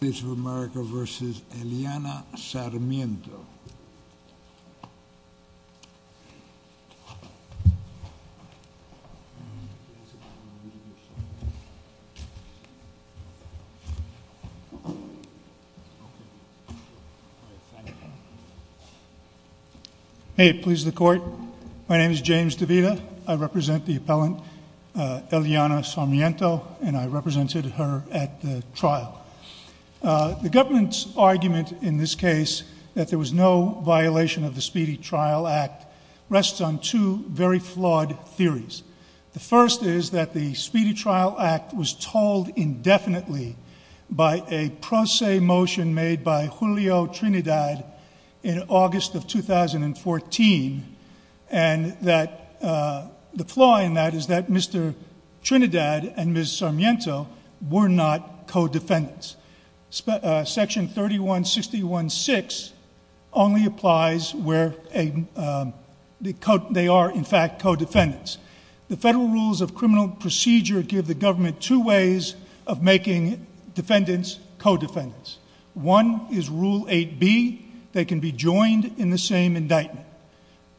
America v. Eliana Sarmiento Hey, please the court. My name is James DeVita. I represent the appellant, Eliana Sarmiento, and I represented her at the trial. The government's argument in this case that there was no violation of the Speedy Trial Act rests on two very flawed theories. The first is that the Speedy Trial Act was told indefinitely by a pro se motion made by Julio Trinidad in August of 2014 and that the flaw in that is that Mr. Trinidad and Ms. Sarmiento were not co-defendants. Section 3161.6 only applies where they are in fact co-defendants. The federal rules of criminal procedure give the government two ways of making defendants co-defendants. One is Rule 8B. They can be joined in the same indictment.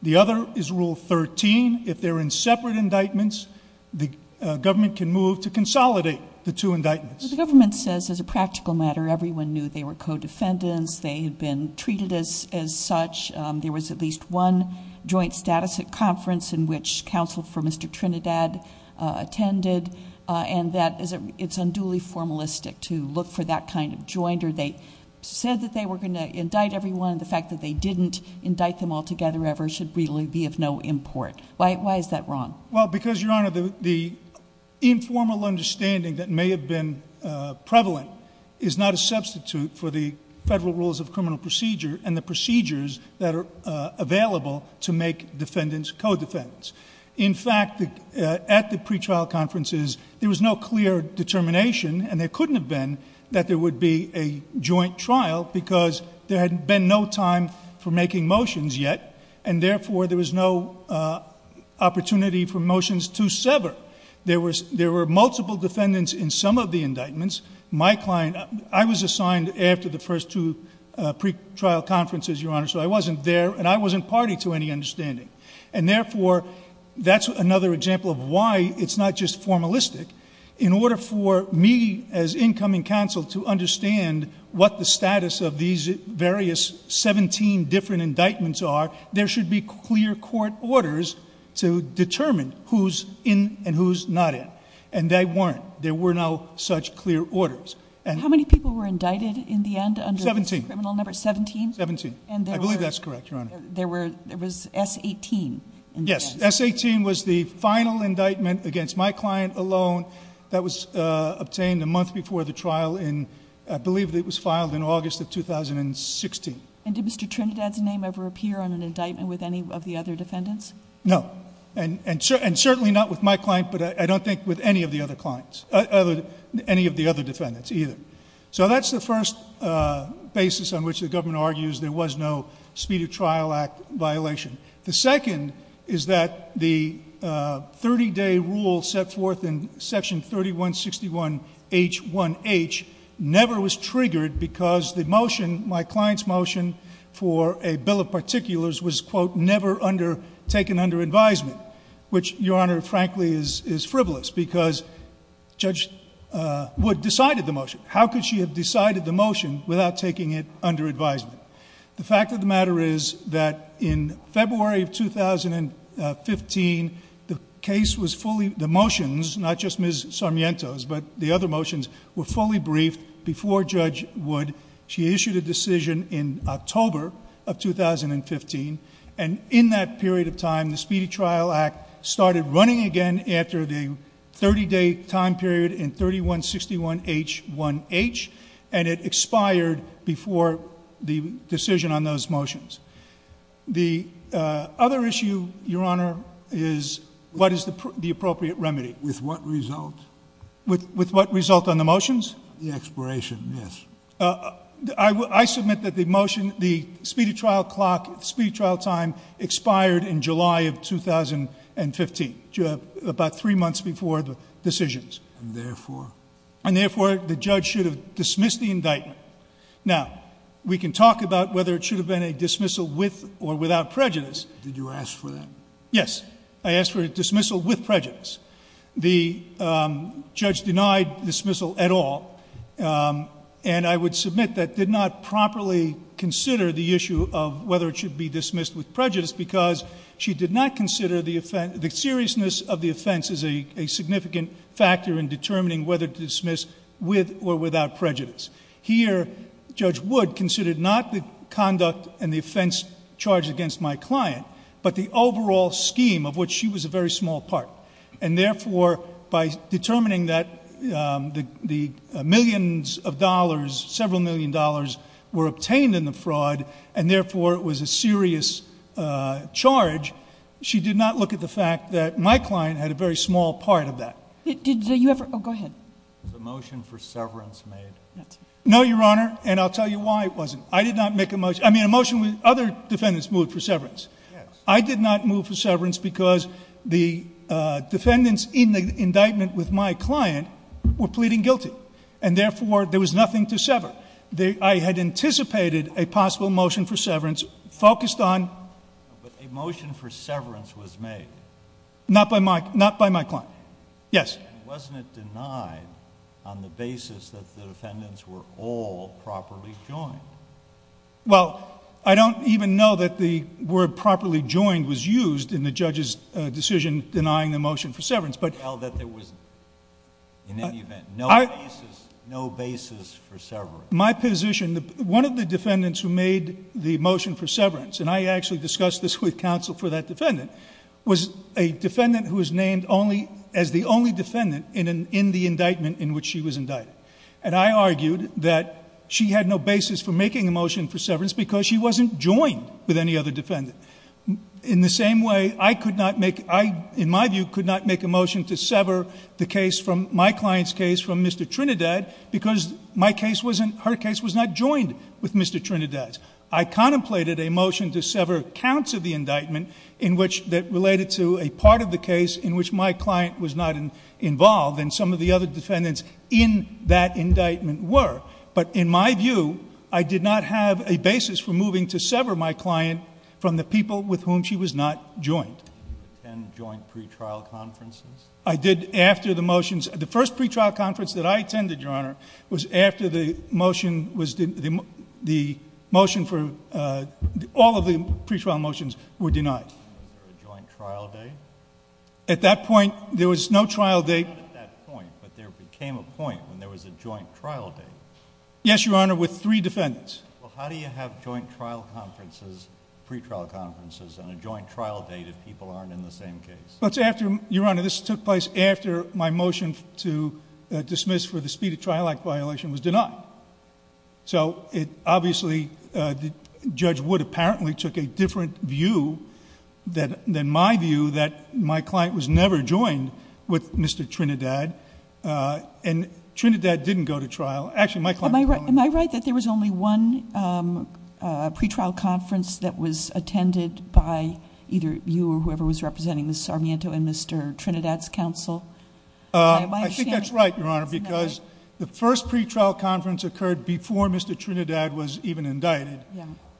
The other is Rule 13. If they're in separate indictments, the government can move to consolidate the two indictments. The government says as a practical matter everyone knew they were co-defendants. They had been treated as such. There was at least one joint status at conference in which counsel for Mr. Trinidad attended, and that it's unduly formalistic to look for that kind of jointer. They said that they were going to indict everyone. The fact that they didn't indict them altogether ever should really be of no import. Why is that wrong? Well, because, Your Honor, the informal understanding that may have been prevalent is not a substitute for the federal rules of criminal procedure and the procedures that are available to make defendants co-defendants. In fact, at the pretrial conferences, there was no clear determination, and there couldn't have been, that there would be a joint trial because there had been no time for making motions yet, and therefore there was no opportunity for motions to sever. There were multiple defendants in some of the indictments. My client, I was assigned after the first two pretrial conferences, Your Honor, so I wasn't there, and I wasn't party to any understanding. And therefore, that's another example of why it's not just formalistic. In order for me as incoming counsel to understand what the status of these various 17 different indictments are, there should be clear court orders to determine who's in and who's not in. And they weren't. There were no such clear orders. How many people were indicted in the end under this criminal number? Seventeen. Seventeen? Seventeen. I believe that's correct, Your Honor. There was S-18. Yes. S-18 was the final indictment against my client alone that was obtained a month before the trial in, I believe it was filed in August of 2016. And did Mr. Trinidad's name ever appear on an indictment with any of the other defendants? No. And certainly not with my client, but I don't think with any of the other clients, any of the other defendants either. So that's the first basis on which the government argues there was no Speed of Trial Act violation. The second is that the 30-day rule set forth in Section 3161H1H never was triggered because the motion, my client's motion, for a bill of particulars was, quote, never undertaken under advisement, which, Your Honor, frankly is frivolous because Judge Wood decided the motion. How could she have decided the motion without taking it under advisement? The fact of the matter is that in February of 2015, the case was fully, the motions, not just Ms. Sarmiento's, but the other motions were fully briefed before Judge Wood. She issued a decision in October of 2015, and in that period of time, the Speed of Trial Act started running again after the 30-day time period in 3161H1H, and it expired before the decision on those motions. The other issue, Your Honor, is what is the appropriate remedy? With what result? With what result on the motions? The expiration, yes. I submit that the motion, the Speed of Trial clock, Speed of Trial time expired in July of 2015, about three months before the decisions. And therefore? And therefore, the judge should have dismissed the indictment. Now, we can talk about whether it should have been a dismissal with or without prejudice. Did you ask for that? Yes. I asked for a dismissal with prejudice. The judge denied dismissal at all, and I would submit that did not properly consider the issue of whether it should be dismissed with prejudice because she did not consider the seriousness of the offense as a significant factor in determining whether to dismiss with or without prejudice. Here, Judge Wood considered not the conduct and the offense charged against my client, but the overall scheme of which she was a very small part. And therefore, by determining that the millions of dollars, several million dollars, were obtained in the fraud, and therefore it was a serious charge, she did not look at the fact that my client had a very small part of that. Did you ever? Oh, go ahead. Was a motion for severance made? No, Your Honor, and I'll tell you why it wasn't. I did not make a motion. I mean, a motion with other defendants moved for severance. I did not move for severance because the defendants in the indictment with my client were pleading guilty. And therefore, there was nothing to sever. I had anticipated a possible motion for severance focused on... But a motion for severance was made. Not by my client. Yes. And wasn't it denied on the basis that the defendants were all properly joined? Well, I don't even know that the word properly joined was used in the judge's decision denying the motion for severance, but... It was held that there was, in any event, no basis for severance. My position, one of the defendants who made the motion for severance, and I actually discussed this with counsel for that defendant, was a defendant who was named only... as the only defendant in the indictment in which she was indicted. And I argued that she had no basis for making a motion for severance because she wasn't joined with any other defendant. In the same way, I could not make... I, in my view, could not make a motion to sever the case from... my client's case from Mr. Trinidad because my case wasn't... her in which... that related to a part of the case in which my client was not involved and some of the other defendants in that indictment were. But, in my view, I did not have a basis for moving to sever my client from the people with whom she was not joined. Did you attend joint pretrial conferences? I did after the motions. The first pretrial conference that I attended, Your Honor, was after the motion was... the motion for... all of the pretrial motions were denied. Was there a joint trial date? At that point, there was no trial date. Not at that point, but there became a point when there was a joint trial date? Yes, Your Honor, with three defendants. Well, how do you have joint trial conferences, pretrial conferences, and a joint trial date if people aren't in the same case? But after... Your Honor, this took place after my motion to dismiss for the speed of trial act violation was denied. So, it obviously... Judge Wood apparently took a different view than my view that my client was never joined with Mr. Trinidad. And Trinidad didn't go to trial. Actually, my client... Am I right that there was only one pretrial conference that was attended by either you or whoever was representing Ms. Sarmiento and Mr. Trinidad's counsel? I think that's right, Your Honor, because the first pretrial conference occurred before Mr. Trinidad was even indicted.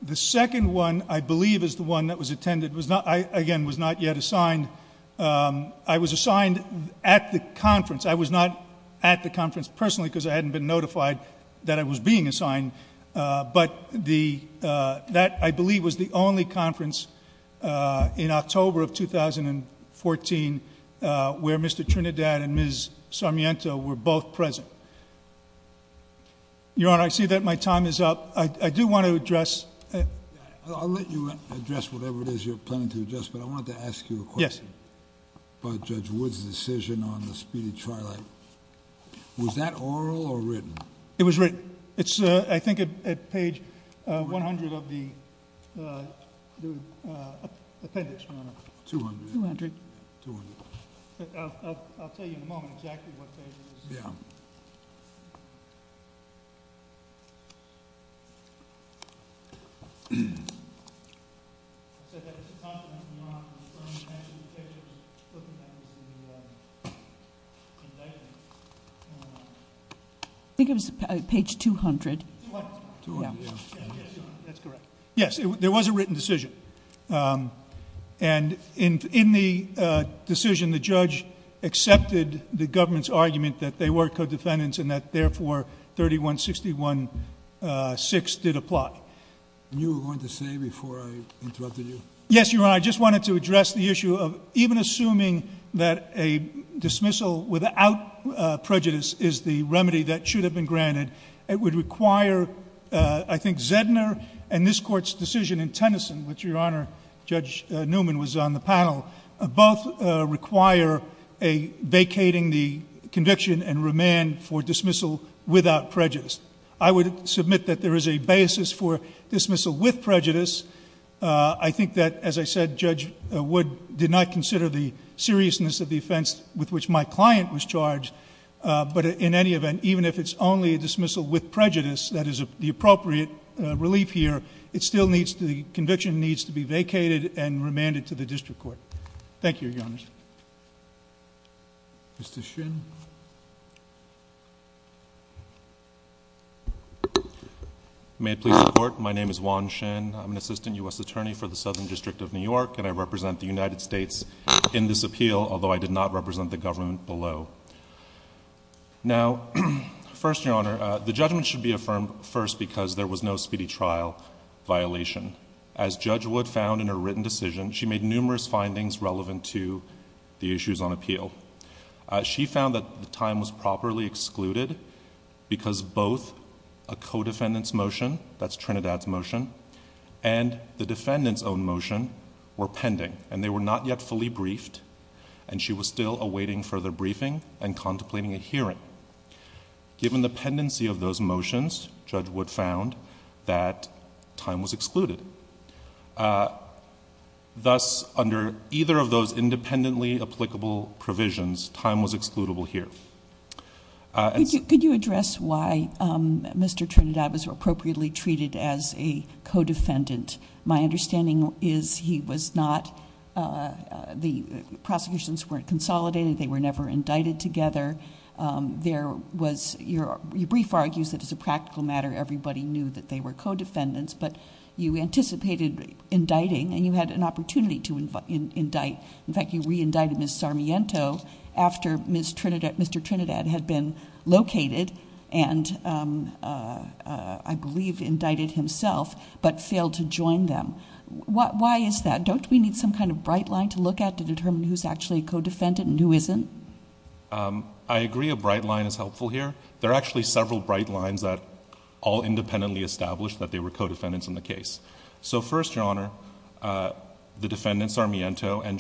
The second one, I believe, is the one that was attended. I, again, was not yet assigned. I was assigned at the conference. I was not at the conference personally because I hadn't been notified that I was being assigned. But that, I believe, was the only conference in October of 2014 where Mr. Trinidad and Ms. Sarmiento were both present. Your Honor, I see that my time is up. I do want to address... I'll let you address whatever it is you're planning to address, but I wanted to ask you a question about Judge Wood's decision on the speed of trial act. Was that oral or written? It was written. It's, I think, at page 100 of the appendix, Your Honor. 200. 200. 200. I'll tell you in a moment exactly what page it is. Yeah. I think it was page 200. 200. 200. Yeah. That's correct. Yes, there was a written decision. And in the decision, the judge accepted the government's request and that, therefore, 3161.6 did apply. You were going to say before I interrupted you... Yes, Your Honor. I just wanted to address the issue of even assuming that a dismissal without prejudice is the remedy that should have been granted, it would require, I think, Zedner and this Court's decision in Tennyson, which, Your Honor, Judge Newman was on the dismissal without prejudice. I would submit that there is a basis for dismissal with prejudice. I think that, as I said, Judge Wood did not consider the seriousness of the offense with which my client was charged. But in any event, even if it's only a dismissal with prejudice that is the appropriate relief here, it still needs to... the conviction needs to be vacated and remanded to the district court. Thank you, Your Honor. Mr. Shin. May it please the Court, my name is Juan Shin. I'm an assistant U.S. attorney for the Southern District of New York, and I represent the United States in this appeal, although I did not represent the government below. Now, first, Your Honor, the judgment should be affirmed first because there was no speedy trial violation. As Judge Wood found in her written decision, she made numerous findings relevant to the issues on appeal. She found that the time was properly excluded because both a co-defendant's motion, that's Trinidad's motion, and the defendant's own motion were pending and they were not yet fully briefed, and she was still awaiting further briefing and contemplating a hearing. Given the pendency of those motions, Judge Wood found that time was excluded. Thus, under either of those independently applicable provisions, time was excludable here. Could you address why Mr. Trinidad was appropriately treated as a co-defendant? My understanding is he was not... the prosecutions weren't consolidated, they were never indicted together. There was... your brief argues that as a practical matter, everybody knew that they were co-defendants, but you anticipated indicting and you had an opportunity to indict. In fact, you re-indicted Ms. Sarmiento after Mr. Trinidad had been located and I believe indicted himself, but failed to join them. Why is that? Don't we need some kind of bright line to look at to determine who's actually a co-defendant and who isn't? I agree a bright line is helpful here. There are actually several bright lines that all independently established that they were co-defendants in the case. First, Your Honor, the defendants, Sarmiento and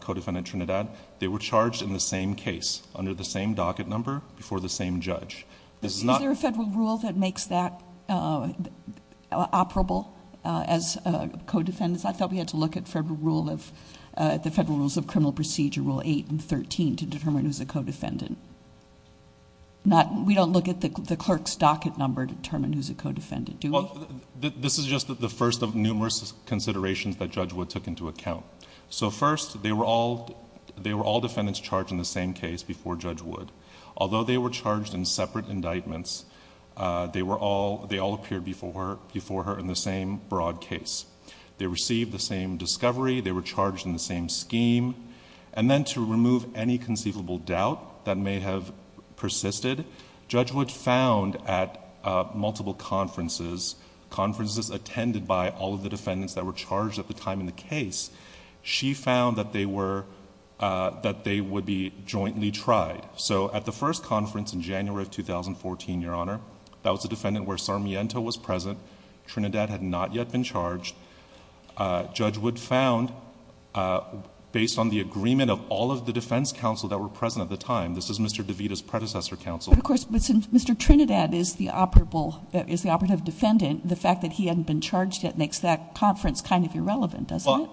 co-defendant Trinidad, they were charged in the same case under the same docket number before the same judge. Is there a federal rule that makes that operable as co-defendants? I thought we had to look at the Federal Rules of Criminal Procedure, Rule 8 and 13 to determine who's a co-defendant. We don't look at the clerk's docket number to determine who's a co-defendant, do we? This is just the first of numerous considerations that Judge Wood took into account. First, they were all defendants charged in the same case before Judge Wood. Although they were charged in separate indictments, they all appeared before her in the same broad case. They received the same discovery. They were charged in the same scheme. Then to remove any conceivable doubt that may have persisted, Judge Wood found at multiple conferences, conferences attended by all of the defendants that were charged at the time in the case, she found that they would be jointly tried. At the first conference in January of 2014, Your Honor, that was a defendant where Sarmiento was present. Trinidad had not yet been charged. Judge Wood found, based on the agreement of all of the defense counsel that were present at the time, this is Mr. DeVita's predecessor counsel. But of course, Mr. Trinidad is the operative defendant. The fact that he hadn't been charged yet makes that conference kind of irrelevant, doesn't it?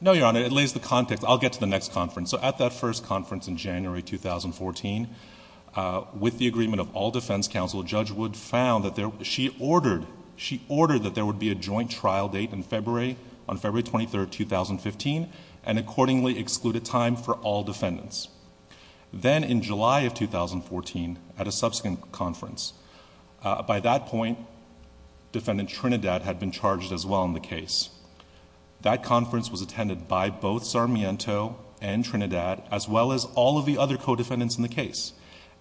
No, Your Honor. It lays the context. I'll get to the next conference. At that first conference in January 2014, with the agreement of all defense counsel, Judge Wood found that she ordered that there would be a joint trial date in February, on February 23rd, 2015, and accordingly excluded time for all defendants. Then in July of 2014, at a subsequent conference, by that point, Defendant Trinidad had been charged as well in the case. That conference was attended by both Sarmiento and Trinidad, as well as all of the other co-defendants in the case.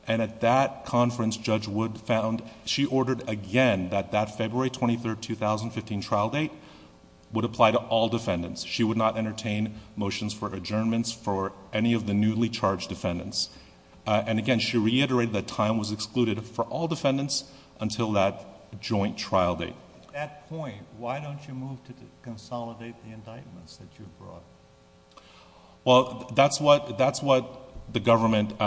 At that conference, Judge Wood found she ordered again that that February 23rd, 2015, trial date would apply to all defendants. She would not entertain motions for adjournments for any of the newly charged defendants. Again, she reiterated that time was excluded for all defendants until that joint trial date. At that point, why don't you move to consolidate the indictments that you brought? Well, that's what the government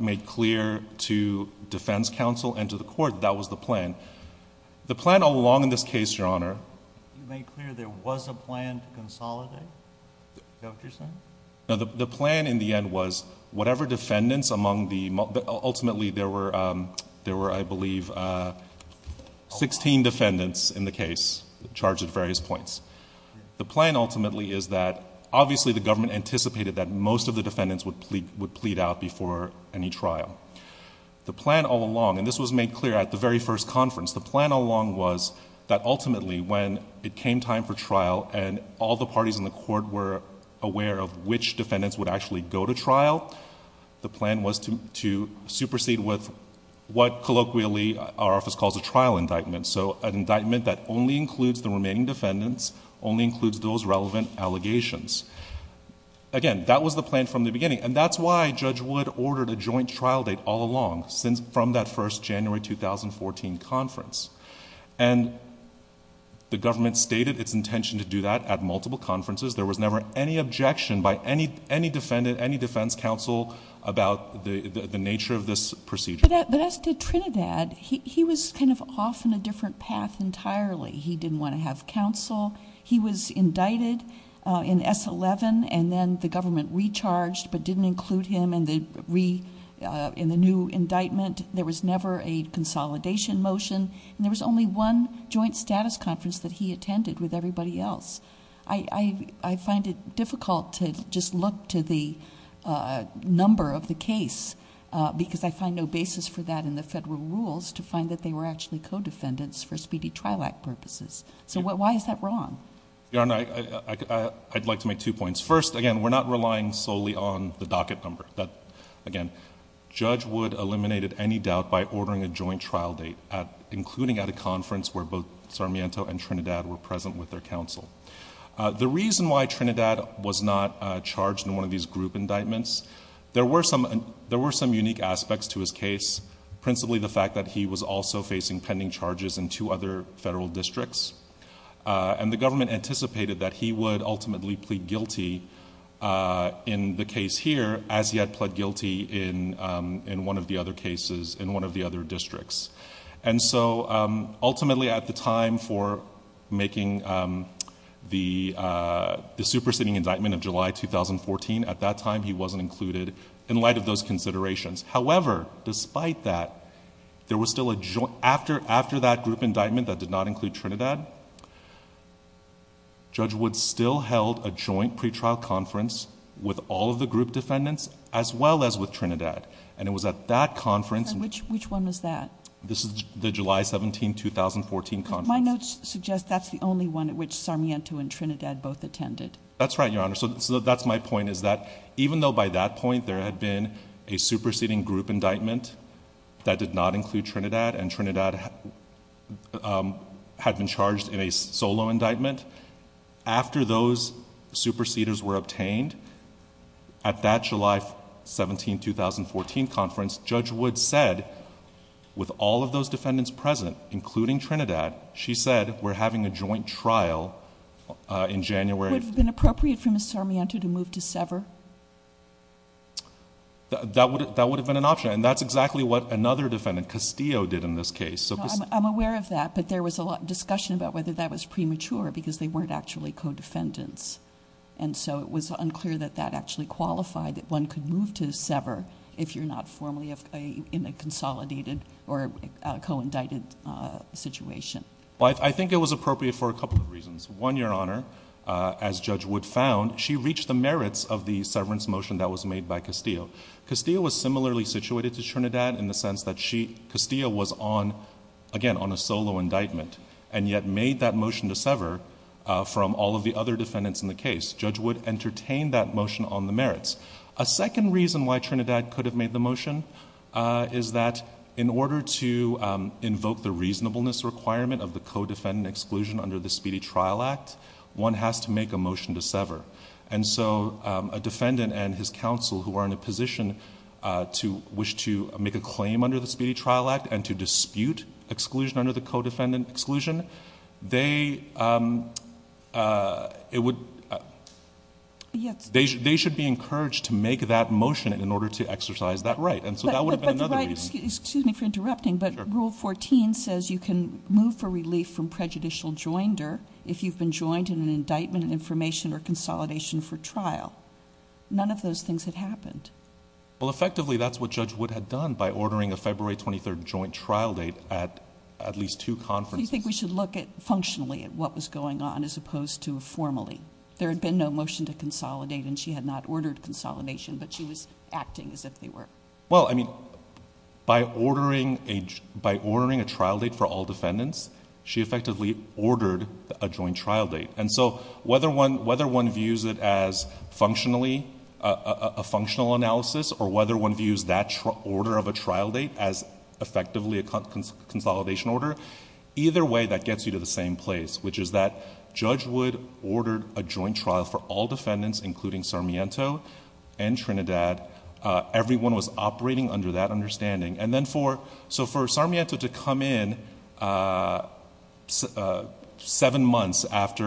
made clear to defense counsel and to the court. That was the plan. The plan all along in this case, Your Honor... You made clear there was a plan to consolidate, is that what you're saying? The plan in the end was, whatever defendants among the... ultimately, there were, I case, charged at various points. The plan ultimately is that, obviously, the government anticipated that most of the defendants would plead out before any trial. The plan all along, and this was made clear at the very first conference, the plan all along was that ultimately, when it came time for trial and all the parties in the court were aware of which defendants would actually go to trial, the plan was to supersede with what colloquially our office calls a trial indictment, so an indictment that only includes the remaining defendants, only includes those relevant allegations. Again, that was the plan from the beginning, and that's why Judge Wood ordered a joint trial date all along from that first January 2014 conference. The government stated its intention to do that at multiple conferences. There was never any objection by any defendant, any defense counsel about the nature of this procedure. But as to Trinidad, he was kind of off on a different path entirely. He didn't want to have counsel. He was indicted in S11, and then the government recharged but didn't include him in the new indictment. There was never a consolidation motion, and there was only one joint status conference that he attended with everybody else. I find it difficult to just look to the number of the case because I find no basis for that in the federal rules to find that they were actually co-defendants for Speedy Trial Act purposes. So why is that wrong? Your Honor, I'd like to make two points. First, again, we're not relying solely on the docket number. Again, Judge Wood eliminated any doubt by ordering a joint trial date, including at a conference where both Sarmiento and Trinidad were present with their counsel. The reason why Trinidad was not charged in one of these group indictments, there were some unique aspects to his case, principally the fact that he was also facing pending charges in two other federal districts, and the government anticipated that he would ultimately plead guilty in the case here as he had pled guilty in one of the other cases in one of the other The superseding indictment of July 2014, at that time, he wasn't included in light of those considerations. However, despite that, there was still a joint... after that group indictment that did not include Trinidad, Judge Wood still held a joint pretrial conference with all of the group defendants as well as with Trinidad, and it was at that conference... Which one was that? This is the July 17, 2014 conference. My notes suggest that's the only one at which Sarmiento and Trinidad both attended. That's right, Your Honor. So that's my point, is that even though by that point there had been a superseding group indictment that did not include Trinidad, and Trinidad had been charged in a solo indictment, after those superseders were obtained, at that July 17, 2014 conference, Judge Wood said, with all of those defendants present, including Trinidad, she said, we're having a joint trial in January... Would it have been appropriate for Ms. Sarmiento to move to Sever? That would have been an option, and that's exactly what another defendant, Castillo, did in this case. I'm aware of that, but there was a lot of discussion about whether that was premature because they weren't actually co-defendants, and so it was unclear that that actually qualified that one could move to Sever if you're not formally in a consolidated or co-indicted situation. I think it was appropriate for a couple of reasons. One, Your Honor, as Judge Wood found, she reached the merits of the severance motion that was made by Castillo. Castillo was similarly situated to Trinidad in the sense that Castillo was on, again, on a solo indictment, and yet made that motion to Sever from all of the other defendants in the case. Judge Wood entertained that motion on the merits. A second reason why Trinidad could have made the motion is that in order to invoke the reasonableness requirement of the co-defendant exclusion under the Speedy Trial Act, one has to make a motion to Sever. A defendant and his counsel who are in a position to wish to make a claim under the Speedy Trial Act and to dispute exclusion under the co-defendant exclusion, they should be encouraged to make that motion in order to exercise that right. So that would have been another reason. But the right, excuse me for interrupting, but Rule 14 says you can move for relief from prejudicial joinder if you've been joined in an indictment in information or consolidation for trial. None of those things had happened. Well, effectively, that's what Judge Wood had done by ordering a February 23rd joint trial date at at least two conferences. So you think we should look at, functionally, at what was going on as opposed to formally? There had been no motion to consolidate and she had not ordered consolidation, but she was acting as if they were. Well, I mean, by ordering a trial date for all defendants, she effectively ordered a joint trial date. And so whether one views it as functionally a functional analysis or whether one views that order of a trial date as effectively a consolidation order, either way that gets you to the same place, which is that Judge Wood ordered a joint trial for all defendants including Sarmiento and Trinidad. Everyone was operating under that understanding. And then for Sarmiento to come in seven months after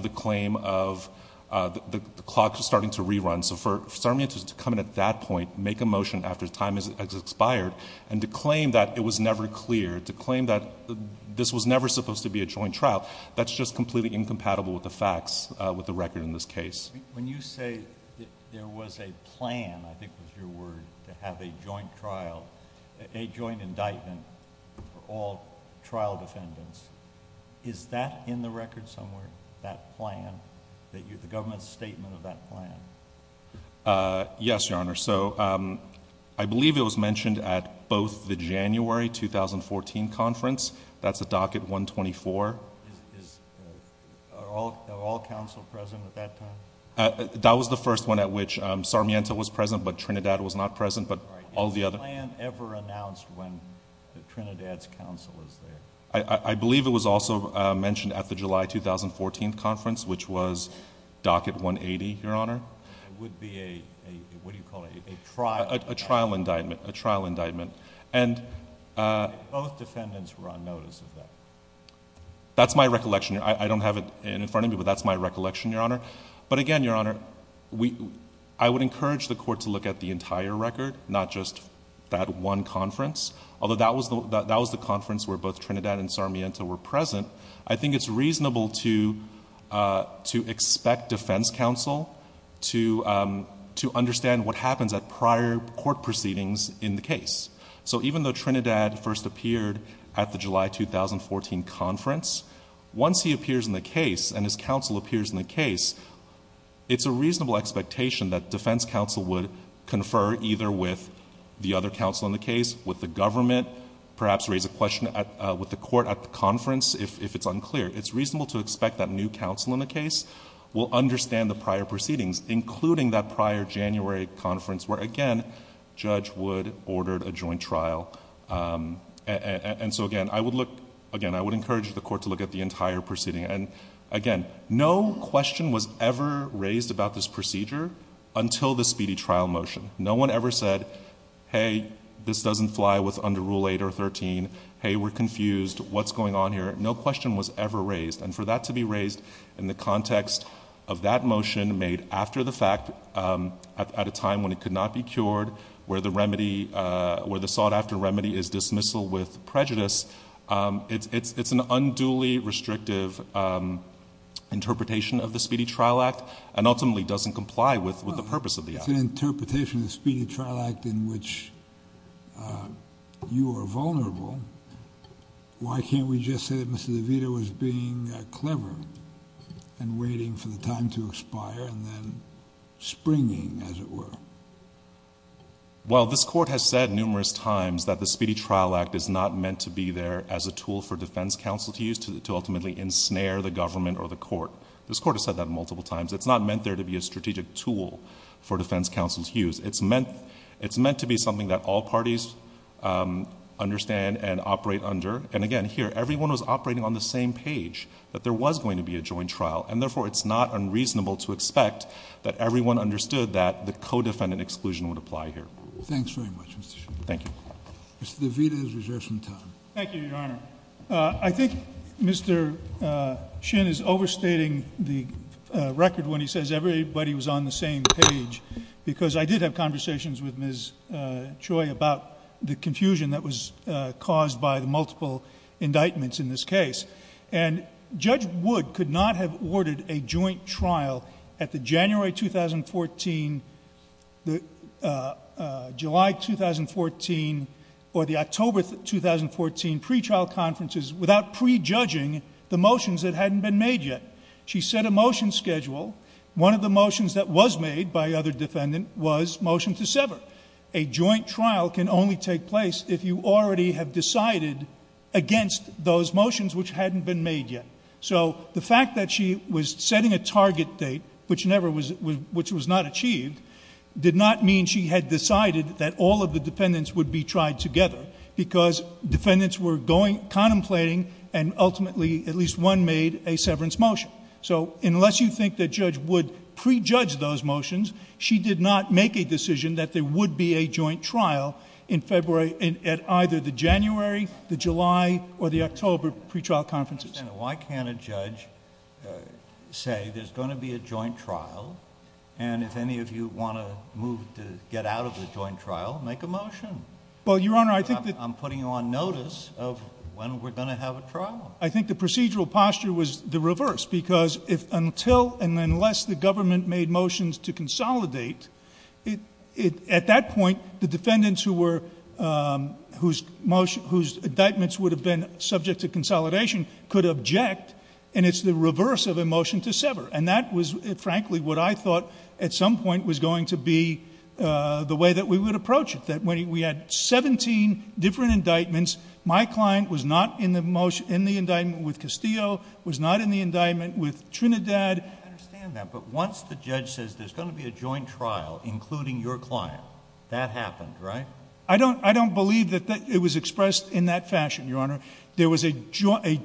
the claim of... the clock is starting to rerun. So for Sarmiento to come in at that point, make a motion after time has expired, and to claim that it was never clear, to claim that this was never supposed to be a joint trial, that's just completely incompatible with the facts, with the record in this case. When you say there was a plan, I think was your word, to have a joint trial, a joint indictment for all trial defendants, is that in the record somewhere, that plan, the government's statement of that plan? Yes, Your Honor. So I believe it was mentioned at both the January 2014 conference. That's at Docket 124. Are all counsel present at that time? That was the first one at which Sarmiento was present, but Trinidad was not present, but all the other... All right. Is the plan ever announced when Trinidad's counsel is there? I believe it was also mentioned at the July 2014 conference, which was Docket 180, Your Honor. It would be a... what do you call it? A trial? A trial indictment. A trial indictment. And both defendants were on notice of that? That's my recollection. I don't have it in front of me, but that's my recollection, Your Honor. But again, Your Honor, I would encourage the Court to look at the entire record, not just that one conference, although that was the conference where both Trinidad and Sarmiento were present. I think it's reasonable to expect defense counsel to understand what happens at prior court proceedings in the case. So even though Trinidad first appeared at the July 2014 conference, once he appears in the case and his counsel appears in the case, it's a reasonable expectation that defense counsel would confer either with the other counsel in the case, with the government, perhaps raise a question with the Court at the conference if it's unclear. It's reasonable to expect that new counsel in the case will understand the prior proceedings, including that prior January conference where, again, Judge Wood ordered a joint trial. And so again, I would encourage the Court to look at the entire proceeding. And again, no question was ever raised about this procedure until the speedy trial motion. No one ever said, hey, this doesn't fly with under Rule 8 or 13. Hey, we're confused. What's going on here? No question was ever raised. And for that to be raised in the context of that motion made after the fact, at a time when it could not be cured, where the remedy, where the dismissal with prejudice, it's an unduly restrictive interpretation of the Speedy Trial Act and ultimately doesn't comply with the purpose of the act. It's an interpretation of the Speedy Trial Act in which you are vulnerable. Why can't we just say that Mr. DeVito was being clever and waiting for the time to expire and then springing, as it were? Well, this Court has said numerous times that the Speedy Trial Act is not meant to be there as a tool for defense counsel to use to ultimately ensnare the government or the Court. This Court has said that multiple times. It's not meant there to be a strategic tool for defense counsel to use. It's meant to be something that all parties understand and operate under. And again, here, everyone was operating on the same page, that there was going to be a joint trial. And therefore, it's not unreasonable to expect that everyone understood that the no-defendant exclusion would apply here. Thanks very much, Mr. Shin. Thank you. Mr. DeVito is reserved some time. Thank you, Your Honor. I think Mr. Shin is overstating the record when he says everybody was on the same page because I did have conversations with Ms. Choi about the confusion that was caused by the multiple indictments in this case. And Judge Wood could not have ordered a joint trial at the January 2014, the July 2014, or the October 2014 pretrial conferences without prejudging the motions that hadn't been made yet. She set a motion schedule. One of the motions that was made by the other defendant was motion to sever. A joint trial can only take place if you already have decided against those motions which hadn't been made yet. So the fact that she was setting a target date, which never was, which was not achieved, did not mean she had decided that all of the defendants would be tried together because defendants were going, contemplating, and ultimately at least one made a severance motion. So unless you think that Judge Wood prejudged those motions, she did not make a decision that there would be a joint trial in February, at either the January, the July, or the October pretrial conferences. Why can't a judge say there's going to be a joint trial, and if any of you want to move to get out of the joint trial, make a motion? Well, Your Honor, I think that... I'm putting you on notice of when we're going to have a trial. I think the procedural posture was the reverse because if until and unless the government made motions to consolidate, at that point, the defendants whose indictments would have been subject to consolidation could object, and it's the reverse of a motion to sever. And that was, frankly, what I thought at some point was going to be the way that we would approach it, that when we had 17 different indictments, my client was not in the indictment with Castillo, was not in the indictment with Trinidad... I understand that, but once the judge says there's going to be a joint trial, including your client, that happened, right? I don't believe that it was expressed in that fashion, Your Honor. There was a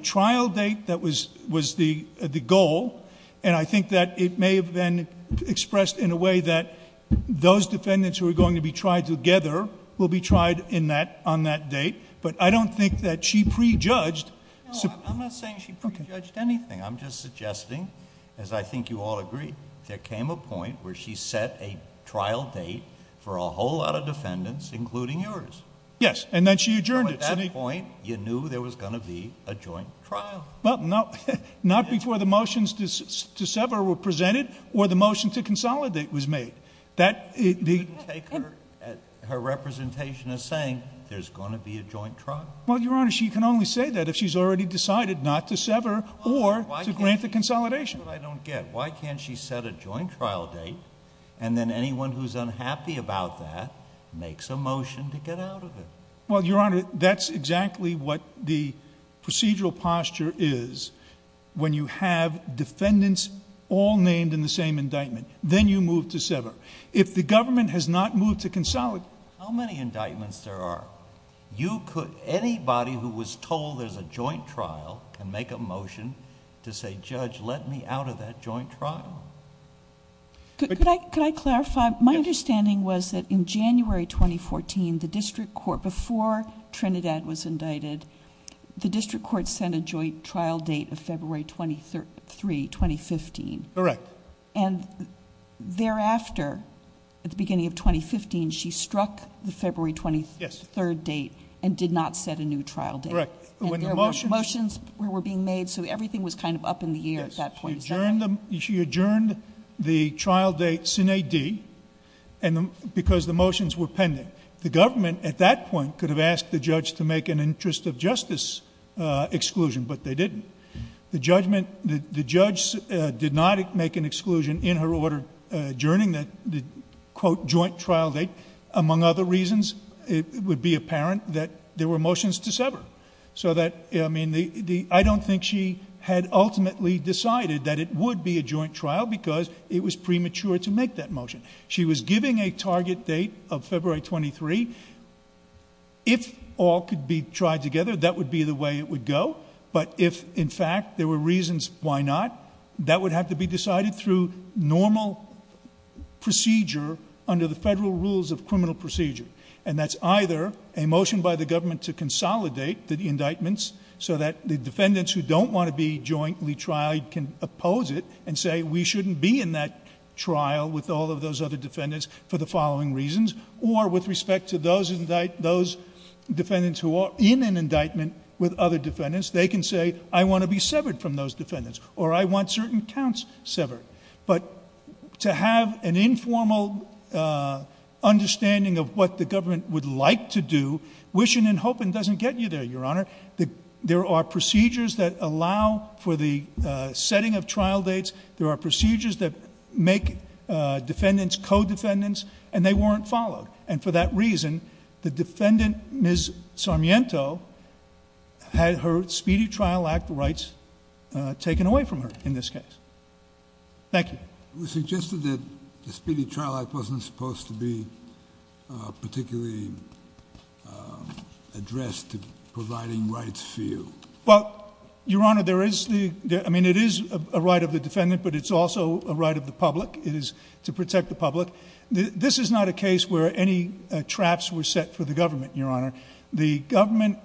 trial date that was the goal, and I think that it may have been expressed in a way that those defendants who are going to be tried together will be tried on that date, but I don't think that she prejudged... No, I'm not saying she prejudged anything. I'm just suggesting, as I think you all agree, there came a point where she set a trial date for a whole lot of defendants, including yours. Yes, and then she adjourned it. So at that point, you knew there was going to be a joint trial. Well, no, not before the motions to sever were presented or the motion to consolidate was made. That... You didn't take her at her representation as saying, there's going to be a joint trial. Well, Your Honor, she can only say that if she's already decided not to sever or to grant the consolidation. That's what I don't get. Why can't she set a joint trial date, and then anyone who's unhappy about that makes a motion to get out of it? Well, Your Honor, that's exactly what the procedural posture is when you have defendants all named in the same indictment. Then you move to sever. If the government has not moved to consolidate... How many indictments there are? Anybody who was told there's a joint trial can make a motion to say, Judge, let me out of that joint trial. Could I clarify? My understanding was that in January 2014, the district court... before Trinidad was indicted, the district court sent a joint trial date of February 23, 2015. Correct. Thereafter, at the beginning of 2015, she struck the February 23 date and did not set a new trial date. Correct. When the motions... The motions were being made, so everything was kind of up in the air at that point. Is that right? Yes. She adjourned the trial date sine D because the motions were pending. The government at that point could have asked the judge to make an interest of justice exclusion, but they didn't. The judgment... the judge did not make an exclusion in her order adjourning the quote joint trial date. Among other reasons, it would be apparent that there were motions to sever. I don't think she had ultimately decided that it would be a joint trial because it was premature to make that motion. She was giving a target date of February 23. If all could be tried together, that would be the way it would go. If, in fact, there were reasons why not, that would have to be decided through normal procedure under the federal rules of criminal procedure. That's either a motion by the government to consolidate the indictments so that the defendants who don't want to be jointly tried can oppose it and say we shouldn't be in that trial with all of those other defendants for the following reasons, or with respect to those defendants in an indictment with other defendants, they can say I want to be severed from those defendants or I want certain counts severed. But to have an informal understanding of what the government would like to do, wishing and hoping doesn't get you there, Your Honor. There are procedures that allow for the setting of trial dates. There are procedures that make defendants co-defendants, and they weren't followed, and for that reason the defendant, Ms. Sarmiento, had her Speedy Trial Act rights taken away from her in this case. Thank you. It was suggested that the Speedy Trial Act wasn't supposed to be particularly addressed to providing rights for you. Well, Your Honor, there is the, I mean, it is a right of the defendant, but it's also a right of the public. It is to protect the public. This is not a case where any traps were set for the government, Your Honor. The government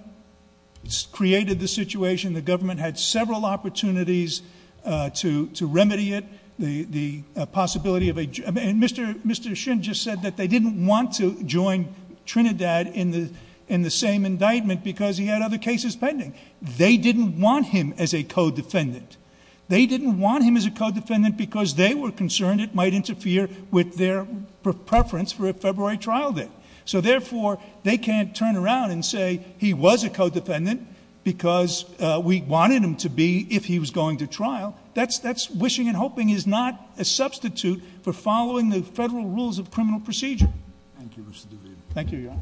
created the situation. The government had several opportunities to remedy it, the possibility of a, and Mr. Shin just said that they didn't want to join Trinidad in the same indictment because he had other cases pending. They didn't want him as a co-defendant. They didn't want him as a co-defendant because they were concerned it might interfere with their preference for a February trial date. So therefore, they can't turn around and say he was a co-defendant because we wanted him to be if he was going to trial. That's wishing and hoping is not a substitute for following the federal rules of criminal procedure. Thank you, Mr. DeVito. Thank you, Your Honor.